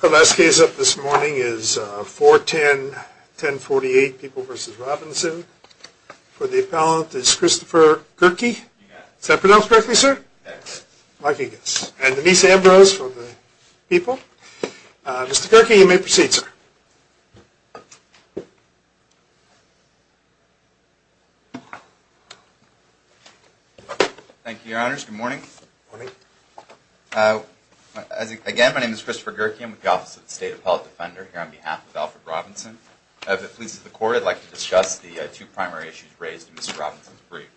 The last case up this morning is 410-1048, People v. Robinson. For the appellant is Christopher Kierkegaard. Is that pronounced correctly, sir? Yes. I think it is. And Denise Ambrose for the People. Mr. Kierkegaard, you may proceed, sir. Thank you, Your Honors. Good morning. Good morning. Again, my name is Christopher Kierkegaard. I'm with the Office of the State Appellate Defender here on behalf of Alfred Robinson. If it pleases the Court, I'd like to discuss the two primary issues raised in Mr. Robinson's brief.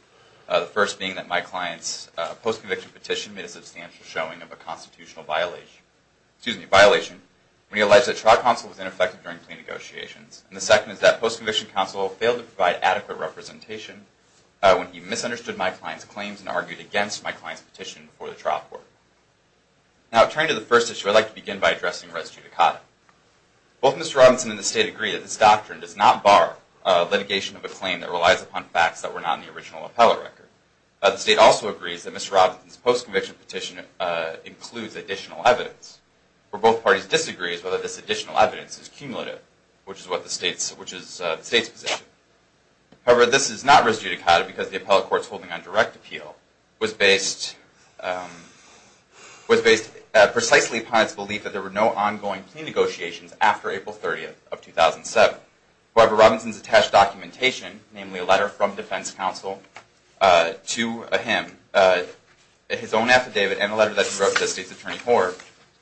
The first being that my client's post-conviction petition made a substantial showing of a constitutional violation when he alleged that trial counsel was ineffective during plea negotiations. And the second is that post-conviction counsel failed to provide adequate representation when he misunderstood my client's claims and argued against my client's petition before the trial court. Now, turning to the first issue, I'd like to begin by addressing res judicata. Both Mr. Robinson and the State agree that this doctrine does not bar litigation of a claim that relies upon facts that were not in the original appellate record. The State also agrees that Mr. Robinson's post-conviction petition includes additional evidence, where both parties disagree as to whether this additional evidence is cumulative, which is the State's position. However, this is not res judicata because the appellate court's holding on direct appeal was based precisely upon its belief that there were no ongoing plea negotiations after April 30th of 2007. However, Robinson's attached documentation, namely a letter from defense counsel to him, his own affidavit, and a letter that he wrote to the State's attorney Hoar,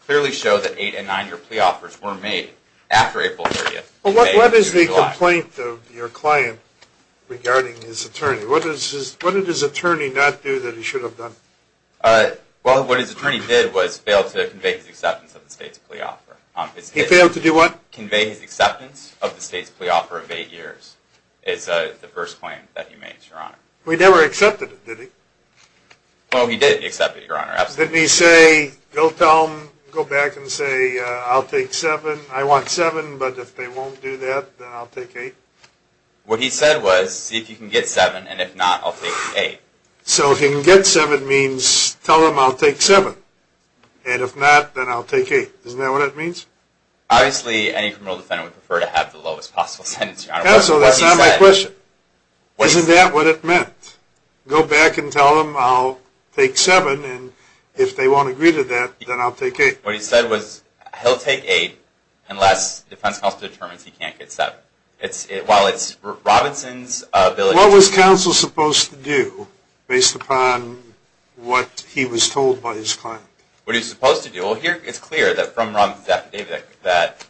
clearly show that eight- and nine-year plea offers were made after April 30th. Well, what is the complaint of your client regarding his attorney? What did his attorney not do that he should have done? Well, what his attorney did was fail to convey his acceptance of the State's plea offer. He failed to do what? Convey his acceptance of the State's plea offer of eight years is the first claim that he made, Your Honor. He never accepted it, did he? Well, he did accept it, Your Honor. Didn't he say, go tell them, go back and say, I'll take seven. I want seven, but if they won't do that, then I'll take eight. What he said was, see if you can get seven, and if not, I'll take eight. So if he can get seven means tell them I'll take seven, and if not, then I'll take eight. Isn't that what it means? Obviously, any criminal defendant would prefer to have the lowest possible sentence, Your Honor. Counsel, that's not my question. Isn't that what it meant? Go back and tell them I'll take seven, and if they won't agree to that, then I'll take eight. What he said was he'll take eight unless defense counsel determines he can't get seven. While it's Robinson's ability to do that. What was counsel supposed to do based upon what he was told by his client? What he was supposed to do. Well, here it's clear that from Robinson's affidavit that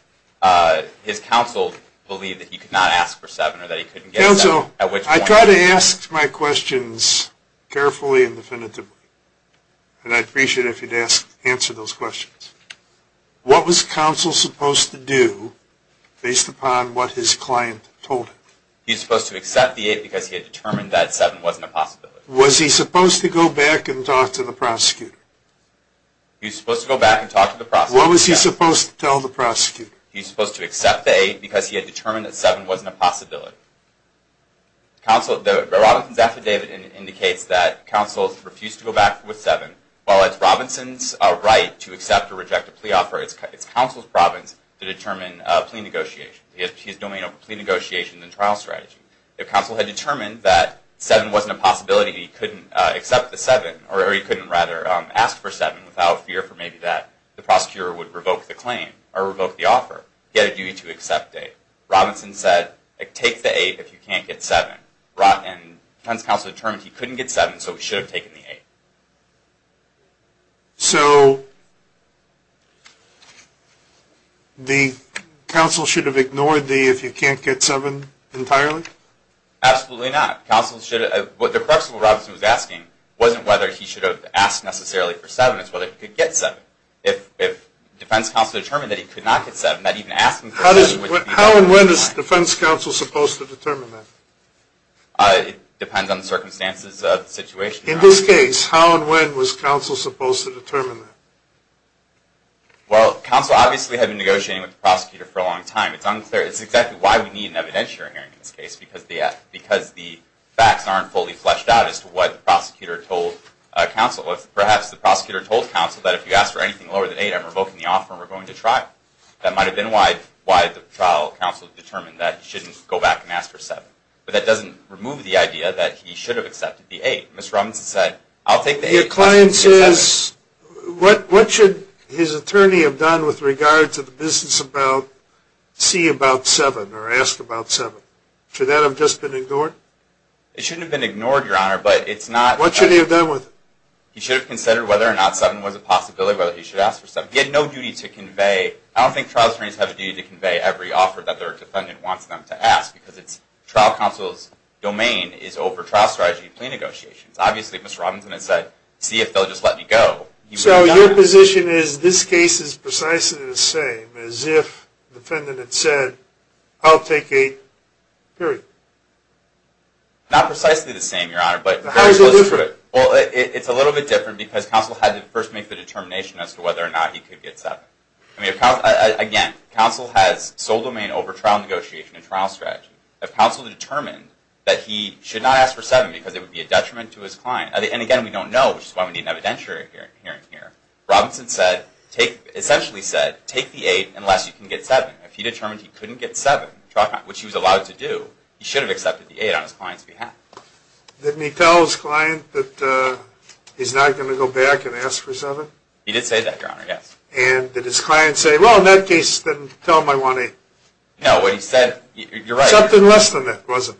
his counsel believed that he could not ask for seven or that he couldn't get seven at which point. I try to ask my questions carefully and definitively, and I'd appreciate it if you'd answer those questions. What was counsel supposed to do based upon what his client told him? He was supposed to accept the eight because he had determined that seven wasn't a possibility. Was he supposed to go back and talk to the prosecutor? He was supposed to go back and talk to the prosecutor. What was he supposed to tell the prosecutor? He was supposed to accept the eight because he had determined that seven wasn't a possibility. The Robinson's affidavit indicates that counsel refused to go back with seven. While it's Robinson's right to accept or reject a plea offer, it's counsel's province to determine plea negotiations. He has domain over plea negotiations and trial strategy. If counsel had determined that seven wasn't a possibility and he couldn't ask for seven without fear for maybe that the prosecutor would revoke the claim or revoke the offer, he had a duty to accept it. Robinson said, take the eight if you can't get seven. Hence, counsel determined he couldn't get seven, so he should have taken the eight. So the counsel should have ignored the if you can't get seven entirely? Absolutely not. The question that Robinson was asking wasn't whether he should have asked necessarily for seven. It's whether he could get seven. If defense counsel determined that he could not get seven, not even asking for seven would be unfair. How and when is defense counsel supposed to determine that? It depends on the circumstances of the situation. In this case, how and when was counsel supposed to determine that? Counsel obviously had been negotiating with the prosecutor for a long time. It's unclear. It's exactly why we need an evidentiary hearing in this case, because the facts aren't fully fleshed out as to what the prosecutor told counsel. Perhaps the prosecutor told counsel that if you ask for anything lower than eight, I'm revoking the offer and we're going to try it. That might have been why the trial counsel determined that he shouldn't go back and ask for seven. But that doesn't remove the idea that he should have accepted the eight. Ms. Robinson said, I'll take the eight. The client says, what should his attorney have done with regard to the business about see about seven or ask about seven? Should that have just been ignored? It shouldn't have been ignored, Your Honor, but it's not. What should he have done with it? He should have considered whether or not seven was a possibility, whether he should ask for seven. He had no duty to convey. I don't think trial attorneys have a duty to convey every offer that their defendant wants them to ask, because it's trial counsel's domain is over trial strategy and plea negotiations. Obviously, Ms. Robinson has said, see if they'll just let me go. So your position is this case is precisely the same as if the defendant had said, I'll take eight, period. Not precisely the same, Your Honor. How is it different? It's a little bit different because counsel had to first make the determination as to whether or not he could get seven. Again, counsel has sole domain over trial negotiation and trial strategy. If counsel determined that he should not ask for seven because it would be a detriment to his client, and again, we don't know, which is why we need an evidentiary hearing here, Robinson essentially said, take the eight unless you can get seven. If he determined he couldn't get seven, which he was allowed to do, he should have accepted the eight on his client's behalf. Didn't he tell his client that he's not going to go back and ask for seven? He did say that, Your Honor, yes. And did his client say, well, in that case, then tell him I want eight? No, what he said, you're right. Something less than that, was it?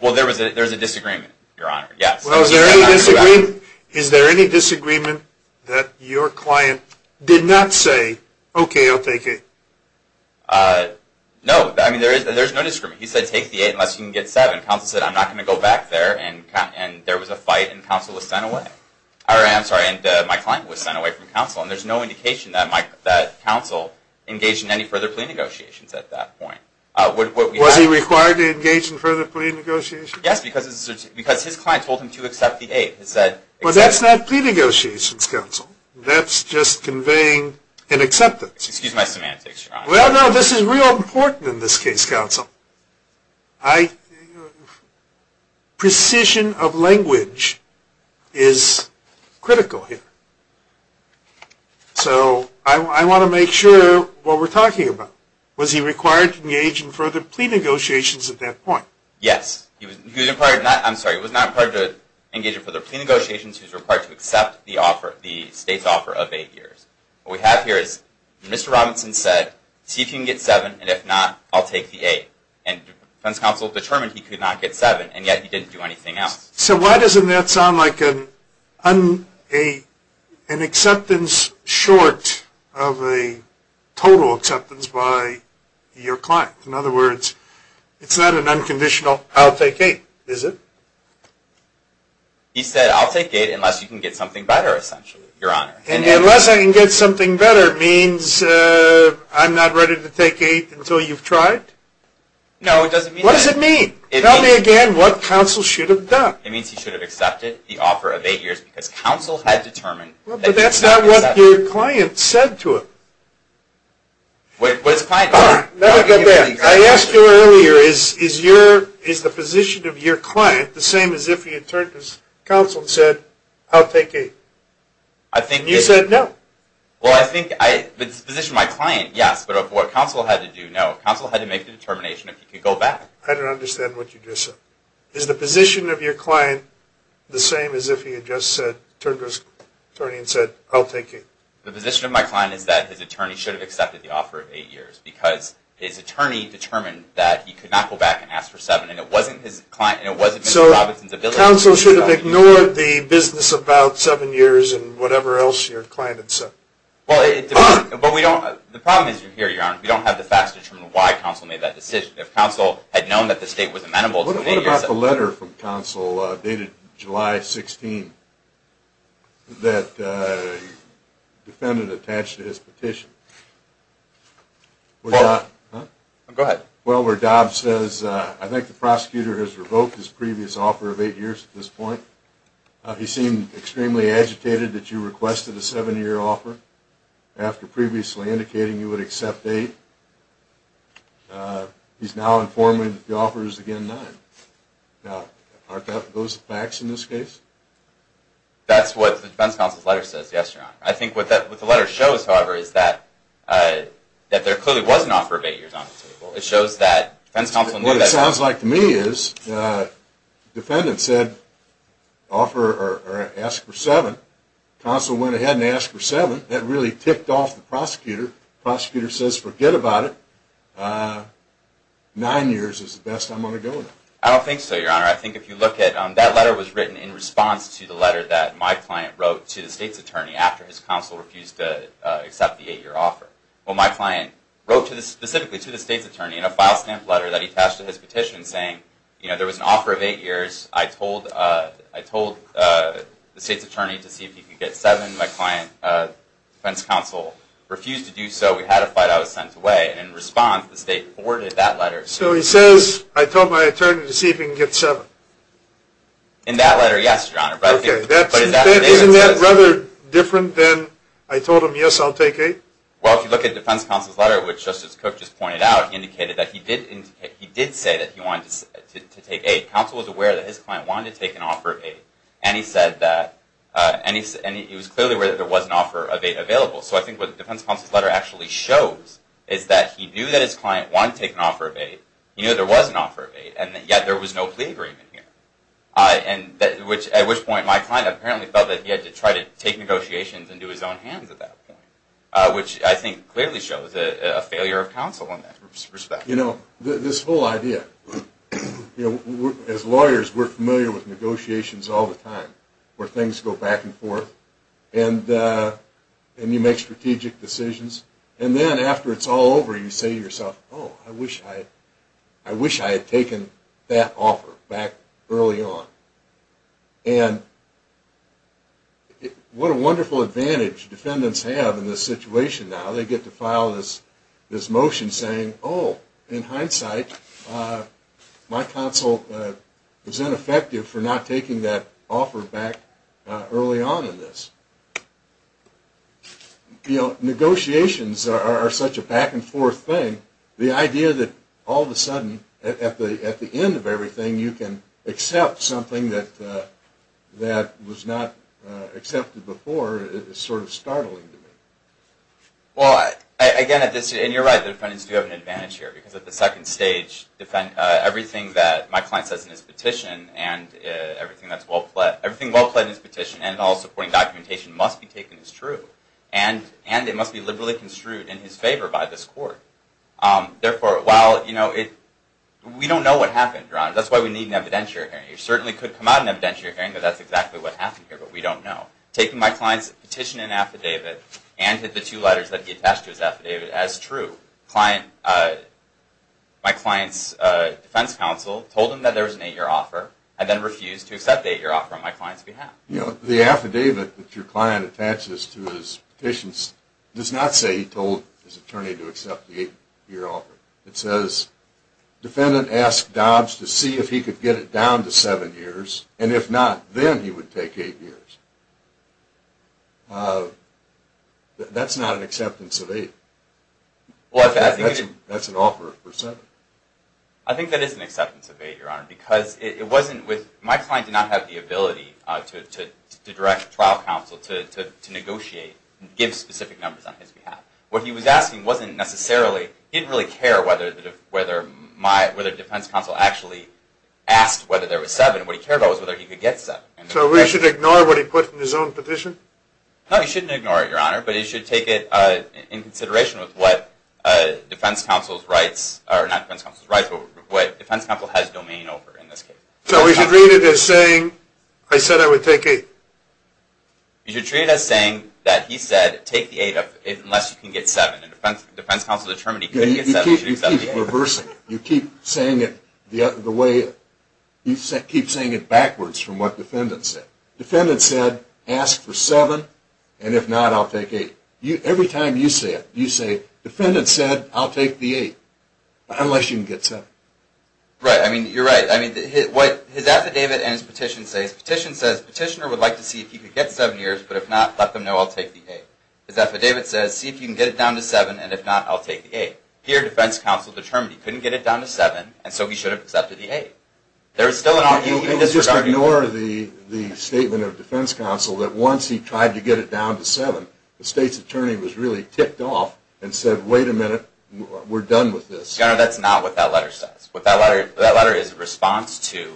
Well, there was a disagreement, Your Honor, yes. Well, is there any disagreement that your client did not say, okay, I'll take eight? No. I mean, there's no disagreement. He said, take the eight unless you can get seven. Counsel said, I'm not going to go back there, and there was a fight, and counsel was sent away. I'm sorry, and my client was sent away from counsel, and there's no indication that counsel engaged in any further plea negotiations at that point. Was he required to engage in further plea negotiations? Yes, because his client told him to accept the eight. Well, that's not plea negotiations, counsel. That's just conveying an acceptance. Excuse my semantics, Your Honor. Well, no, this is real important in this case, counsel. Precision of language is critical here. So I want to make sure what we're talking about. Was he required to engage in further plea negotiations at that point? Yes. He was not required to engage in further plea negotiations. He was required to accept the state's offer of eight years. What we have here is Mr. Robinson said, see if you can get seven, and if not, I'll take the eight. And defense counsel determined he could not get seven, and yet he didn't do anything else. So why doesn't that sound like an acceptance short of a total acceptance by your client? In other words, it's not an unconditional, I'll take eight, is it? He said, I'll take eight unless you can get something better, essentially, Your Honor. Unless I can get something better means I'm not ready to take eight until you've tried? No, it doesn't mean that. What does it mean? Tell me again what counsel should have done. It means he should have accepted the offer of eight years because counsel had determined that he could not accept it. Well, but that's not what your client said to him. What does client mean? I asked you earlier, is the position of your client the same as if he had turned to counsel and said, I'll take eight? You said no. Well, I think the position of my client, yes, but of what counsel had to do, no. Counsel had to make the determination if he could go back. I don't understand what you just said. Is the position of your client the same as if he had just said, turned to his attorney and said, I'll take eight? The position of my client is that his attorney should have accepted the offer of eight years because his attorney determined that he could not go back and ask for seven, and it wasn't his client, and it wasn't Mr. Robinson's ability to do so. So counsel should have ignored the business about seven years and whatever else your client had said? Well, it depends, but we don't, the problem is here, Your Honor, we don't have the facts to determine why counsel made that decision. If counsel had known that the state was amenable to eight years. What about the letter from counsel dated July 16th that the defendant attached to his petition? Go ahead. Well, where Dobbs says, I think the prosecutor has revoked his previous offer of eight years at this point. He seemed extremely agitated that you requested a seven-year offer after previously indicating you would accept eight. He's now informing me that the offer is again nine. Now, aren't those facts in this case? That's what the defense counsel's letter says, yes, Your Honor. I think what the letter shows, however, is that there clearly was an offer of eight years on the table. It shows that defense counsel knew that. What it sounds like to me is the defendant said, offer or ask for seven. Counsel went ahead and asked for seven. That really ticked off the prosecutor. Prosecutor says, forget about it. Nine years is the best I'm going to go with. I don't think so, Your Honor. I think if you look at, that letter was written in response to the letter that my client wrote to the state's attorney after his counsel refused to accept the eight-year offer. Well, my client wrote specifically to the state's attorney in a file stamp letter that he attached to his petition saying, you know, there was an offer of eight years. I told the state's attorney to see if he could get seven. My client, defense counsel, refused to do so. We had a fight. I was sent away. In response, the state forwarded that letter. So he says, I told my attorney to see if he could get seven. In that letter, yes, Your Honor. Isn't that rather different than I told him, yes, I'll take eight? Well, if you look at defense counsel's letter, which Justice Cook just pointed out, indicated that he did say that he wanted to take eight. Counsel was aware that his client wanted to take an offer of eight. And he said that, and he was clearly aware that there was an offer of eight available. So I think what the defense counsel's letter actually shows is that he knew that his client wanted to take an offer of eight. He knew there was an offer of eight, and yet there was no plea agreement here, at which point my client apparently felt that he had to try to take negotiations into his own hands at that point, which I think clearly shows a failure of counsel in that respect. You know, this whole idea. As lawyers, we're familiar with negotiations all the time, where things go back and forth, and you make strategic decisions. And then after it's all over, you say to yourself, oh, I wish I had taken that offer back early on. And what a wonderful advantage defendants have in this situation now. They get to file this motion saying, oh, in hindsight, my counsel was ineffective for not taking that offer back early on in this. You know, negotiations are such a back-and-forth thing. The idea that all of a sudden, at the end of everything, you can accept something that was not accepted before is sort of startling to me. Well, again, you're right. The defendants do have an advantage here, because at the second stage, everything that my client says in his petition and everything well-planned in his petition and all supporting documentation must be taken as true, and it must be liberally construed in his favor by this court. Therefore, while, you know, we don't know what happened, Ron. That's why we need an evidentiary hearing. It certainly could come out in an evidentiary hearing that that's exactly what happened here, but we don't know. Taking my client's petition and affidavit and the two letters that he attached to his affidavit as true. My client's defense counsel told him that there was an eight-year offer, and then refused to accept the eight-year offer on my client's behalf. You know, the affidavit that your client attaches to his petitions does not say he told his attorney to accept the eight-year offer. It says, defendant asked Dobbs to see if he could get it down to seven years, and if not, then he would take eight years. That's not an acceptance of eight. That's an offer for seven. I think that is an acceptance of eight, Your Honor, because it wasn't with – my client did not have the ability to direct trial counsel to negotiate, give specific numbers on his behalf. What he was asking wasn't necessarily – he didn't really care whether defense counsel actually asked whether there was seven. What he cared about was whether he could get seven. So we should ignore what he put in his own petition? No, you shouldn't ignore it, Your Honor, but you should take it in consideration with what defense counsel's rights – or not defense counsel's rights, but what defense counsel has domain over in this case. So we should read it as saying, I said I would take eight. You should treat it as saying that he said, take the eight unless you can get seven, and defense counsel determined he couldn't get seven. You keep reversing it. You keep saying it the way – you keep saying it backwards from what defendant said. Defendant said, ask for seven, and if not, I'll take eight. Every time you say it, you say, defendant said, I'll take the eight, unless you can get seven. Right. I mean, you're right. I mean, his affidavit and his petition say – his petition says, petitioner would like to see if he could get seven years, but if not, let them know I'll take the eight. His affidavit says, see if you can get it down to seven, and if not, I'll take the eight. Here, defense counsel determined he couldn't get it down to seven, and so he should have accepted the eight. There is still an argument – You just ignore the statement of defense counsel that once he tried to get it down to seven, the state's attorney was really ticked off and said, wait a minute, we're done with this. No, that's not what that letter says. That letter is a response to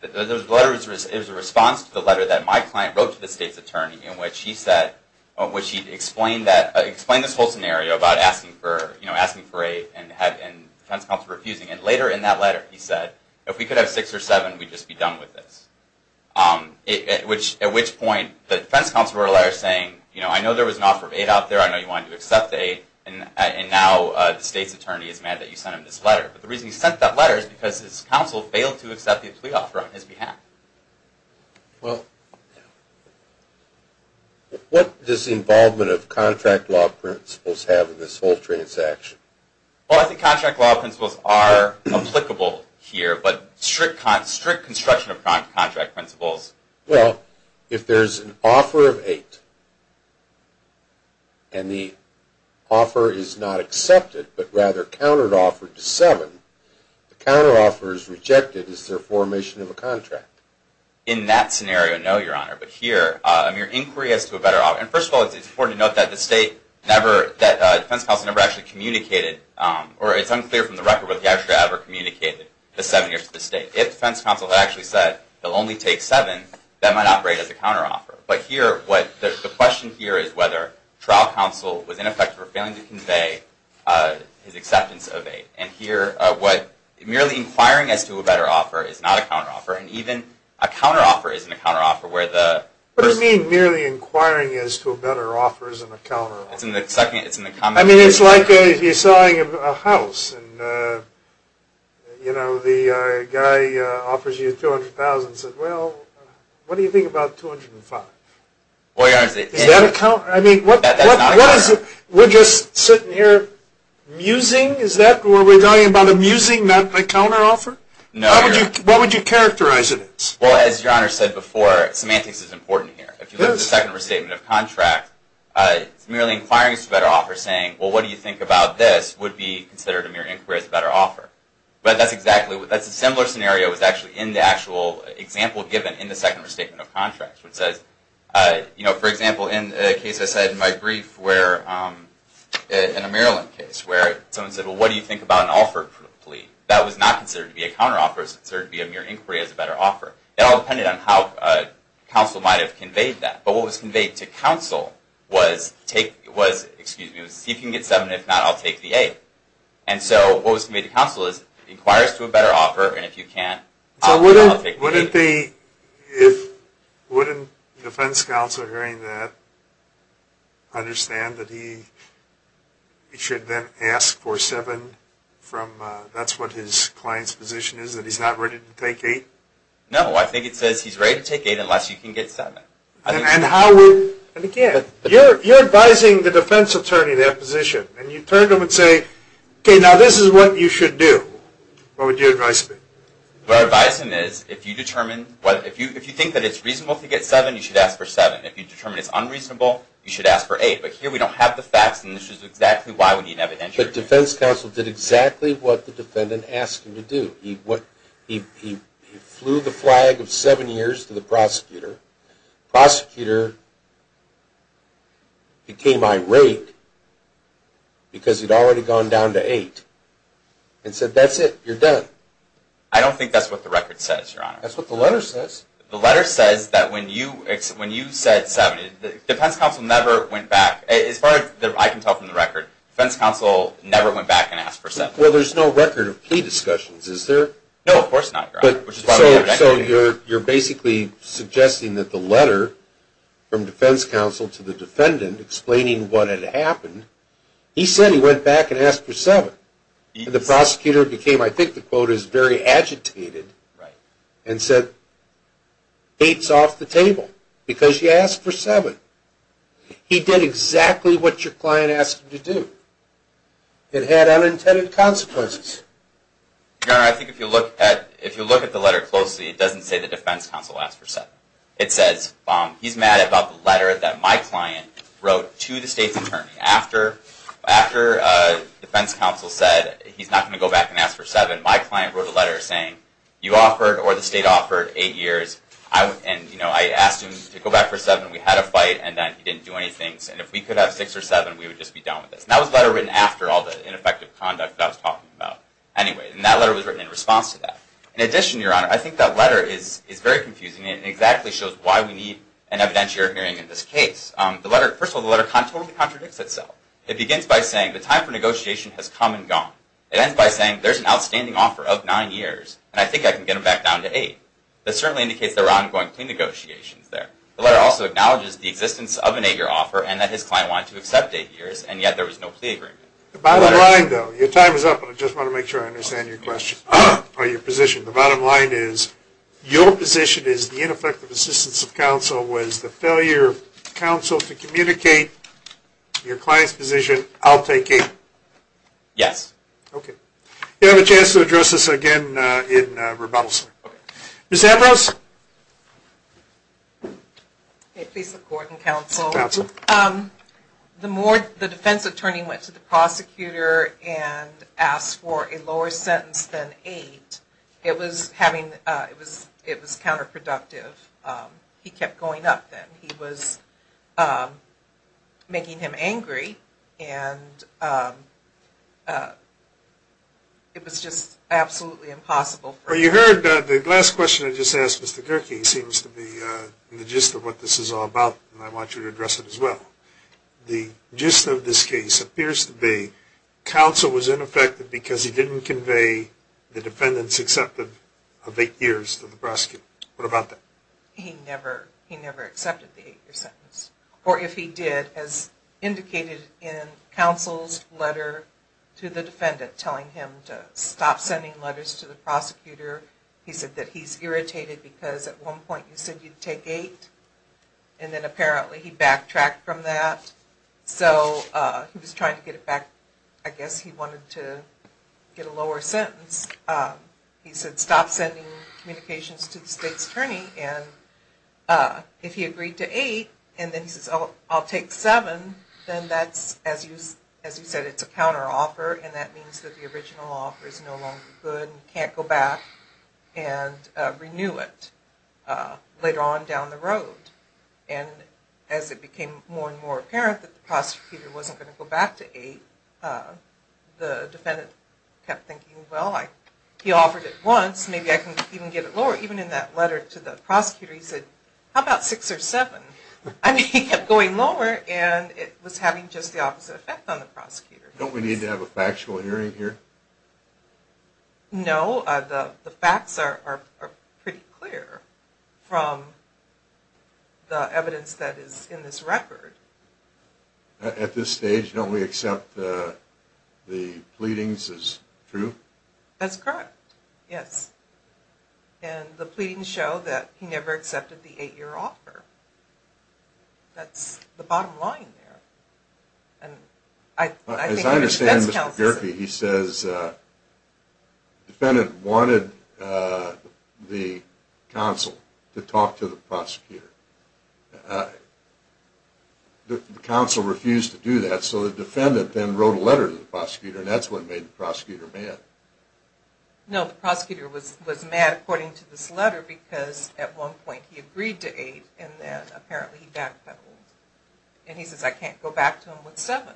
the letter that my client wrote to the state's attorney, in which he explained this whole scenario about asking for eight, and defense counsel refusing it. Later in that letter, he said, if we could have six or seven, we'd just be done with this. At which point, the defense counsel wrote a letter saying, I know there was an offer of eight out there, I know you wanted to accept the eight, and now the state's attorney is mad that you sent him this letter. The reason he sent that letter is because his counsel failed to accept the plea offer on his behalf. What does the involvement of contract law principles have in this whole transaction? I think contract law principles are applicable here, but strict construction of contract principles – Well, if there's an offer of eight, and the offer is not accepted, but rather counter-offered to seven, the counter-offer is rejected, is there formation of a contract? In that scenario, no, Your Honor. But here, your inquiry has to have a better offer. First of all, it's important to note that the defense counsel never actually communicated, or it's unclear from the record whether he actually ever communicated the seven-year to the state. If the defense counsel had actually said he'll only take seven, that might operate as a counter-offer. But here, the question here is whether trial counsel was in effect or failing to convey his acceptance of eight. And here, merely inquiring as to a better offer is not a counter-offer, and even a counter-offer isn't a counter-offer where the person – What do you mean merely inquiring as to a better offer isn't a counter-offer? It's in the second – I mean, it's like you're selling a house, and, you know, the guy offers you $200,000 and says, well, what do you think about $205,000? Well, Your Honor, it's – Is that a counter – I mean, what – That's not a counter-offer. What is it? We're just sitting here musing? Is that where we're talking about a musing, not a counter-offer? No, Your Honor. What would you characterize it as? Well, as Your Honor said before, semantics is important here. If you look at the second restatement of contract, it's merely inquiring as to a better offer saying, well, what do you think about this would be considered a mere inquiry as a better offer. But that's exactly – that's a similar scenario that's actually in the actual example given in the second restatement of contract, which says, you know, for example, in a case I said in my brief where – in a Maryland case where someone said, well, what do you think about an offer plea? That was not considered to be a counter-offer. It was considered to be a mere inquiry as a better offer. That all depended on how counsel might have conveyed that. But what was conveyed to counsel was take – was, excuse me, see if you can get 7. If not, I'll take the 8. And so what was conveyed to counsel is inquire as to a better offer. And if you can't, I'll take the 8. So wouldn't the – wouldn't defense counsel hearing that understand that he should then ask for 7 from – that's what his client's position is, that he's not ready to take 8? No, I think it says he's ready to take 8 unless you can get 7. And how would – and again, you're advising the defense attorney in that position, and you turn to him and say, okay, now this is what you should do. What would you advise him? What I'd advise him is if you determine – if you think that it's reasonable to get 7, you should ask for 7. If you determine it's unreasonable, you should ask for 8. But here we don't have the facts, and this is exactly why we need evidence. But defense counsel did exactly what the defendant asked him to do. He flew the flag of 7 years to the prosecutor. Prosecutor became irate because he'd already gone down to 8 and said, that's it, you're done. I don't think that's what the record says, Your Honor. That's what the letter says. The letter says that when you said 7, defense counsel never went back. As far as I can tell from the record, defense counsel never went back and asked for 7. Well, there's no record of plea discussions, is there? No, of course not, Your Honor. So you're basically suggesting that the letter from defense counsel to the defendant explaining what had happened, he said he went back and asked for 7. The prosecutor became, I think the quote is, very agitated and said, 8's off the table because you asked for 7. He did exactly what your client asked him to do. It had unintended consequences. Your Honor, I think if you look at the letter closely, it doesn't say that defense counsel asked for 7. It says he's mad about the letter that my client wrote to the state's attorney. After defense counsel said he's not going to go back and ask for 7, my client wrote a letter saying, you offered, or the state offered, 8 years. And I asked him to go back for 7. We had a fight, and then he didn't do anything. And if we could have 6 or 7, we would just be done with this. And that was the letter written after all the ineffective conduct that I was talking about. Anyway, and that letter was written in response to that. In addition, Your Honor, I think that letter is very confusing. It exactly shows why we need an evidentiary hearing in this case. First of all, the letter totally contradicts itself. It begins by saying, the time for negotiation has come and gone. It ends by saying, there's an outstanding offer of 9 years, and I think I can get him back down to 8. This certainly indicates there are ongoing clean negotiations there. The letter also acknowledges the existence of an 8-year offer and that his client wanted to accept 8 years, and yet there was no plea agreement. The bottom line, though, your time is up, and I just want to make sure I understand your question, or your position. The bottom line is, your position is the ineffective assistance of counsel was the failure of counsel to communicate your client's position. I'll take 8. Yes. Okay. You'll have a chance to address this again in rebuttal, sir. Okay. Ms. Avros? Please support and counsel. Counsel. The more the defense attorney went to the prosecutor and asked for a lower sentence than 8, it was counterproductive. He kept going up then. He was making him angry, and it was just absolutely impossible. Well, you heard the last question I just asked Mr. Kierkegaard. It seems to be the gist of what this is all about, and I want you to address it as well. The gist of this case appears to be counsel was ineffective because he didn't convey the defendant's acceptance of 8 years to the prosecutor. What about that? He never accepted the 8-year sentence. Or if he did, as indicated in counsel's letter to the defendant telling him to stop sending letters to the prosecutor. He said that he's irritated because at one point you said you'd take 8, and then apparently he backtracked from that. So he was trying to get it back. I guess he wanted to get a lower sentence. He said stop sending communications to the state's attorney. And if he agreed to 8, and then he says I'll take 7, then that's, as you said, it's a counteroffer, and that means that the original offer is no longer good and he can't go back and renew it later on down the road. And as it became more and more apparent that the prosecutor wasn't going to go back to 8, the defendant kept thinking, well, he offered it once, maybe I can even get it lower. Even in that letter to the prosecutor, he said, how about 6 or 7? And he kept going lower, and it was having just the opposite effect on the prosecutor. Don't we need to have a factual hearing here? No, the facts are pretty clear from the evidence that is in this record. At this stage, don't we accept the pleadings as true? That's correct, yes. And the pleadings show that he never accepted the 8-year offer. That's the bottom line there. As I understand, Mr. Gerke, he says the defendant wanted the counsel to talk to the prosecutor. The counsel refused to do that, so the defendant then wrote a letter to the prosecutor, and that's what made the prosecutor mad. No, the prosecutor was mad according to this letter because at one point he agreed to 8, and then apparently he backpedaled. And he says, I can't go back to him with 7.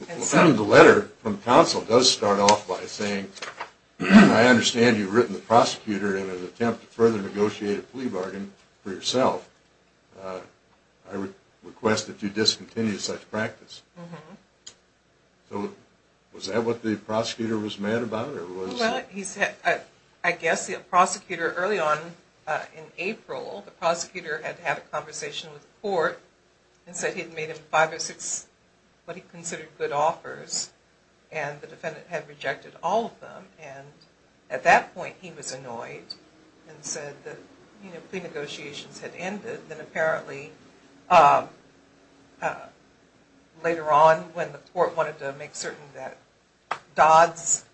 The letter from the counsel does start off by saying, I understand you've written the prosecutor in an attempt to further negotiate a plea bargain for yourself. I request that you discontinue such practice. Was that what the prosecutor was mad about? Well, I guess the prosecutor, early on in April, the prosecutor had to have a conversation with the court and said he had made him five or six what he considered good offers, and the defendant had rejected all of them. And at that point he was annoyed and said the plea negotiations had ended. Then apparently later on when the court wanted to make certain that Dodd's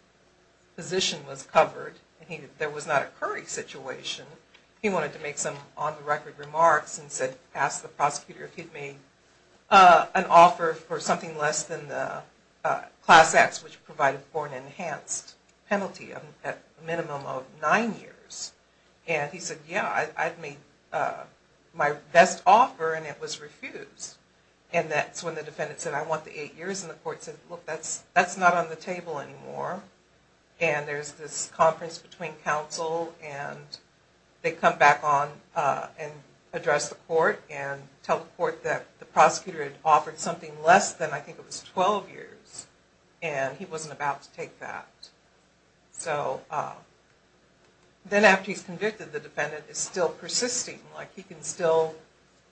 position was covered, and there was not a Curry situation, he wanted to make some on-the-record remarks and said, ask the prosecutor if he'd made an offer for something less than the Class X, which provided for an enhanced penalty at a minimum of 9 years. And he said, yeah, I'd made my best offer and it was refused. And that's when the defendant said, I want the 8 years. And the court said, look, that's not on the table anymore. And there's this conference between counsel and they come back on and address the court and tell the court that the prosecutor had offered something less than I think it was 12 years. And he wasn't about to take that. So then after he's convicted, the defendant is still persisting. Like he can still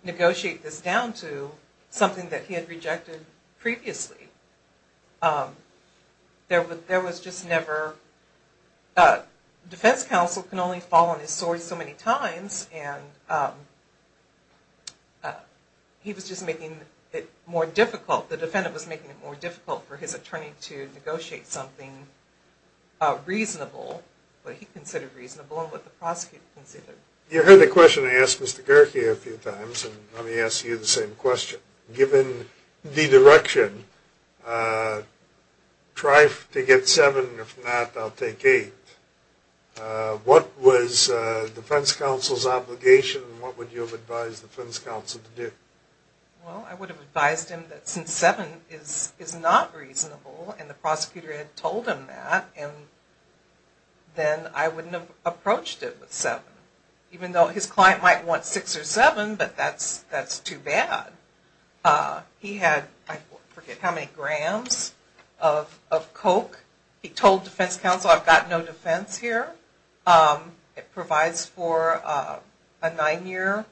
negotiate this down to something that he had rejected previously. There was just never, defense counsel can only fall on his sword so many times, and he was just making it more difficult, the defendant was making it more difficult for his attorney to negotiate something reasonable, what he considered reasonable and what the prosecutor considered. You heard the question I asked Mr. Gerke a few times, and let me ask you the same question. Given the direction, try to get 7, if not, I'll take 8. What was defense counsel's obligation and what would you have advised defense counsel to do? Well, I would have advised him that since 7 is not reasonable, and the prosecutor had told him that, then I wouldn't have approached it with 7. Even though his client might want 6 or 7, but that's too bad. He had, I forget how many grams of coke. He told defense counsel, I've got no defense here. It provides for a 9-year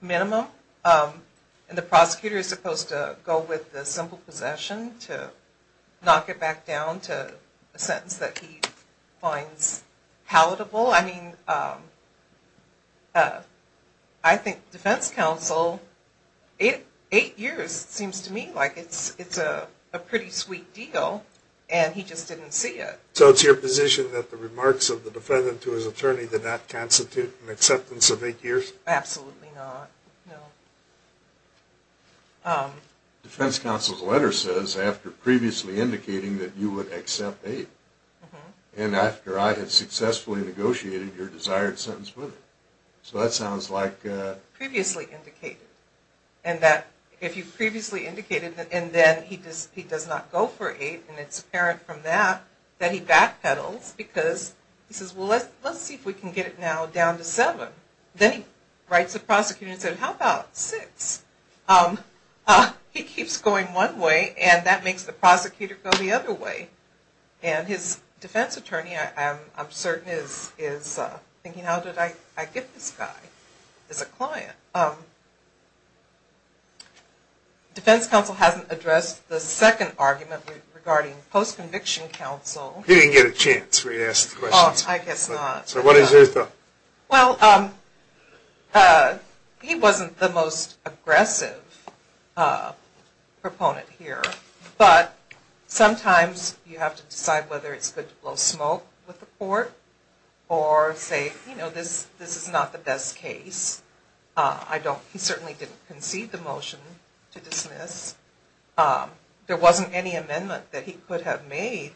minimum, and the prosecutor is supposed to go with the simple possession to knock it back down to a sentence that he finds palatable. I mean, I think defense counsel, 8 years seems to me like it's a pretty sweet deal, and he just didn't see it. So it's your position that the remarks of the defendant to his attorney did not constitute an acceptance of 8 years? Absolutely not, no. Defense counsel's letter says, after previously indicating that you would accept 8, and after I had successfully negotiated your desired sentence with it. So that sounds like... Previously indicated, and that if you previously indicated, and then he does not go for 8, and it's apparent from that, that he backpedals, because he says, well let's see if we can get it now down to 7. Then he writes the prosecutor and says, how about 6? He keeps going one way, and that makes the prosecutor go the other way. And his defense attorney, I'm certain, is thinking, how did I get this guy as a client? So defense counsel hasn't addressed the second argument regarding post-conviction counsel. He didn't get a chance where he asked the questions. Oh, I guess not. So what is his thought? Well, he wasn't the most aggressive proponent here, but sometimes you have to decide whether it's good to blow smoke with the court, or say, you know, this is not the best case. He certainly didn't concede the motion to dismiss. There wasn't any amendment that he could have made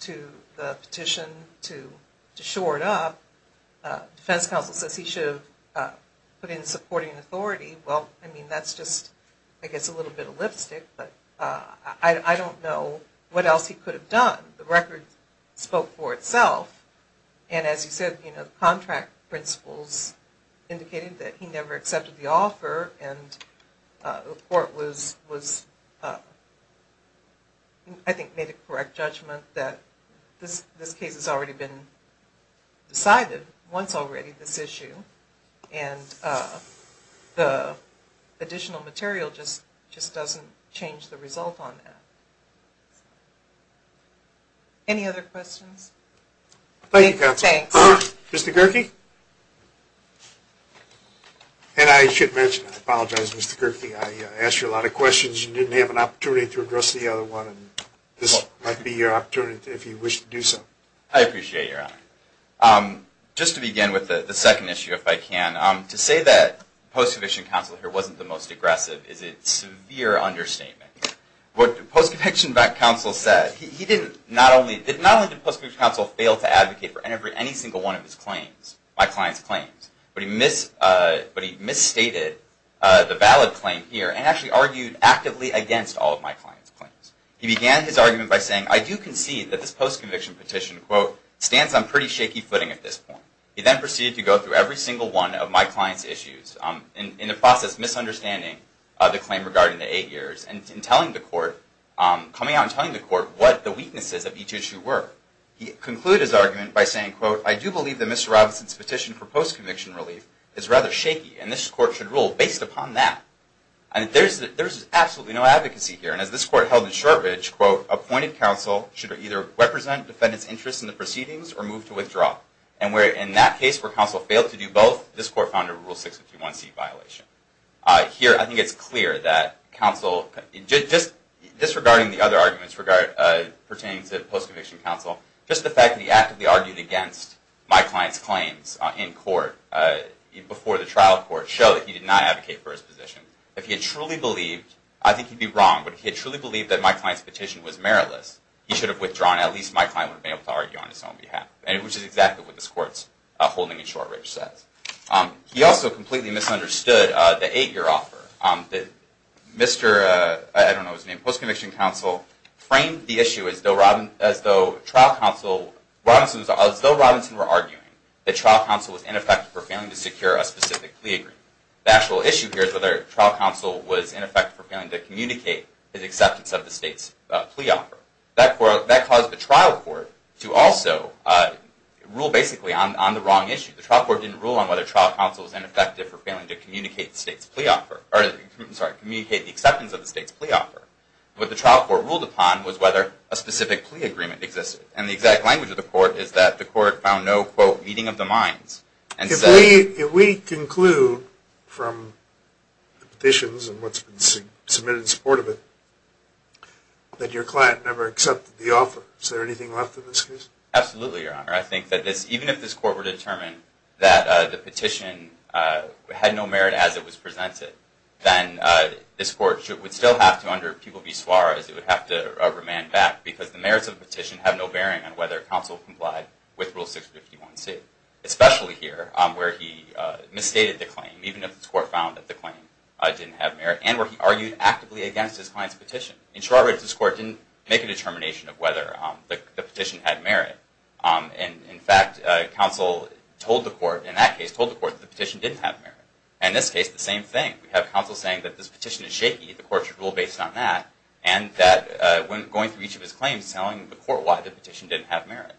to the petition to shore it up. Defense counsel says he should have put in supporting authority. Well, I mean, that's just, I guess, a little bit of lipstick, but I don't know what else he could have done. The record spoke for itself, and as you said, you know, the contract principles indicated that he never accepted the offer, and the court was, I think, made a correct judgment that this case has already been decided, this issue, and the additional material just doesn't change the result on that. Any other questions? Thank you, counsel. Thanks. Mr. Gerke? And I should mention, I apologize, Mr. Gerke, I asked you a lot of questions. You didn't have an opportunity to address the other one, and this might be your opportunity if you wish to do so. I appreciate your honor. Just to begin with the second issue, if I can, to say that post-conviction counsel here wasn't the most aggressive is a severe understatement. What post-conviction counsel said, not only did post-conviction counsel fail to advocate for any single one of his claims, my client's claims, but he misstated the valid claim here and actually argued actively against all of my client's claims. He began his argument by saying, I do concede that this post-conviction petition, quote, stands on pretty shaky footing at this point. He then proceeded to go through every single one of my client's issues in the process of misunderstanding the claim regarding the eight years and coming out and telling the court what the weaknesses of each issue were. He concluded his argument by saying, quote, I do believe that Mr. Robinson's petition for post-conviction relief is rather shaky and this court should rule based upon that. There's absolutely no advocacy here. And as this court held in Shortridge, quote, appointed counsel should either represent defendant's interest in the proceedings or move to withdraw. And where in that case where counsel failed to do both, this court found a Rule 651C violation. Here I think it's clear that counsel, just disregarding the other arguments pertaining to post-conviction counsel, just the fact that he actively argued against my client's claims in court before the trial court showed that he did not advocate for his position. If he had truly believed, I think he'd be wrong, but if he had truly believed that my client's petition was meritless, he should have withdrawn. At least my client would have been able to argue on his own behalf, which is exactly what this court's holding in Shortridge says. He also completely misunderstood the eight-year offer. Mr. I don't know his name, post-conviction counsel, framed the issue as though trial counsel, as though Robinson were arguing that trial counsel was ineffective for failing to secure a specific plea agreement. The actual issue here is whether trial counsel was ineffective for failing to communicate his acceptance of the state's plea offer. That caused the trial court to also rule basically on the wrong issue. The trial court didn't rule on whether trial counsel was ineffective for failing to communicate the acceptance of the state's plea offer. What the trial court ruled upon was whether a specific plea agreement existed. And the exact language of the court is that the court found no, quote, If we conclude from the petitions and what's been submitted in support of it that your client never accepted the offer, is there anything left in this case? Absolutely, Your Honor. I think that even if this court were determined that the petition had no merit as it was presented, then this court would still have to, under People v. Suarez, it would have to remand back because the merits of the petition have no bearing on whether counsel complied with Rule 651c. Especially here, where he misstated the claim, even if this court found that the claim didn't have merit, and where he argued actively against his client's petition. In short, this court didn't make a determination of whether the petition had merit. In fact, counsel told the court, in that case, told the court that the petition didn't have merit. In this case, the same thing. We have counsel saying that this petition is shaky, the court should rule based on that, and that, going through each of his claims, telling the court why the petition didn't have merit.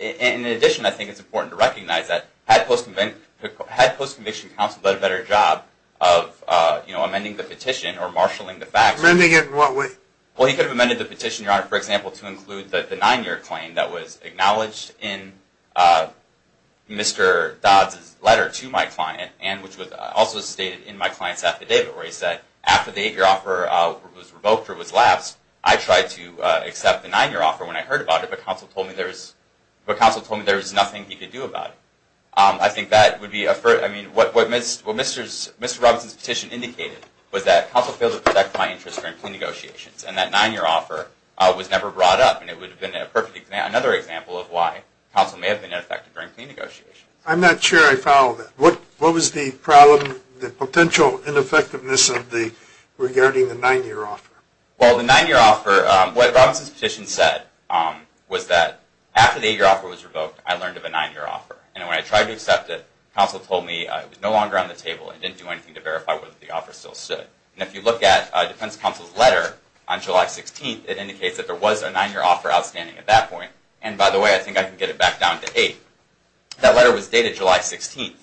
In addition, I think it's important to recognize that, had post-conviction counsel done a better job of amending the petition, or marshalling the facts, Amending it in what way? Well, he could have amended the petition, Your Honor, for example, to include the nine-year claim that was acknowledged in Mr. Dodds' letter to my client, and which was also stated in my client's affidavit, where he said, after the eight-year offer was revoked or was lapsed, I tried to accept the nine-year offer when I heard about it, but counsel told me there was nothing he could do about it. I think that would be a first. I mean, what Mr. Robinson's petition indicated was that counsel failed to protect my interest during clean negotiations, and that nine-year offer was never brought up, and it would have been another example of why counsel may have been ineffective during clean negotiations. I'm not sure I follow that. What was the problem, the potential ineffectiveness regarding the nine-year offer? Well, the nine-year offer, what Robinson's petition said was that after the eight-year offer was revoked, I learned of a nine-year offer, and when I tried to accept it, counsel told me it was no longer on the table and didn't do anything to verify whether the offer still stood. And if you look at defense counsel's letter on July 16th, it indicates that there was a nine-year offer outstanding at that point, and by the way, I think I can get it back down to eight. That letter was dated July 16th,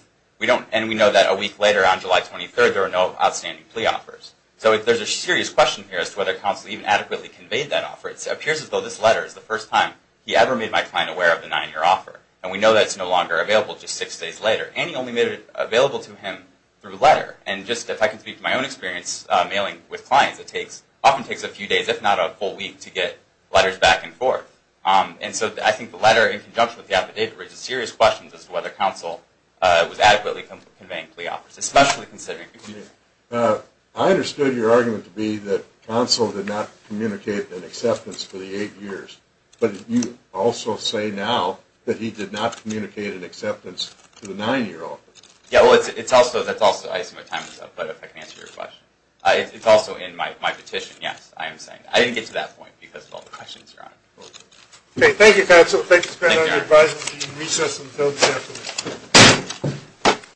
and we know that a week later on July 23rd, there were no outstanding plea offers. So there's a serious question here as to whether counsel even adequately conveyed that offer. It appears as though this letter is the first time he ever made my client aware of the nine-year offer, and we know that it's no longer available just six days later, and he only made it available to him through a letter. And just if I can speak to my own experience mailing with clients, it often takes a few days, if not a full week, to get letters back and forth. And so I think the letter, in conjunction with the affidavit, raises serious questions as to whether counsel was adequately conveying plea offers, especially considering it's a nine-year offer. I understood your argument to be that counsel did not communicate an acceptance for the eight years, but you also say now that he did not communicate an acceptance to the nine-year offer. Yeah, well, it's also in my petition, yes, I am saying. I didn't get to that point because of all the questions you're asking. Okay, thank you, counsel. Thank you, Mr. President. I advise that we recess until 10 p.m.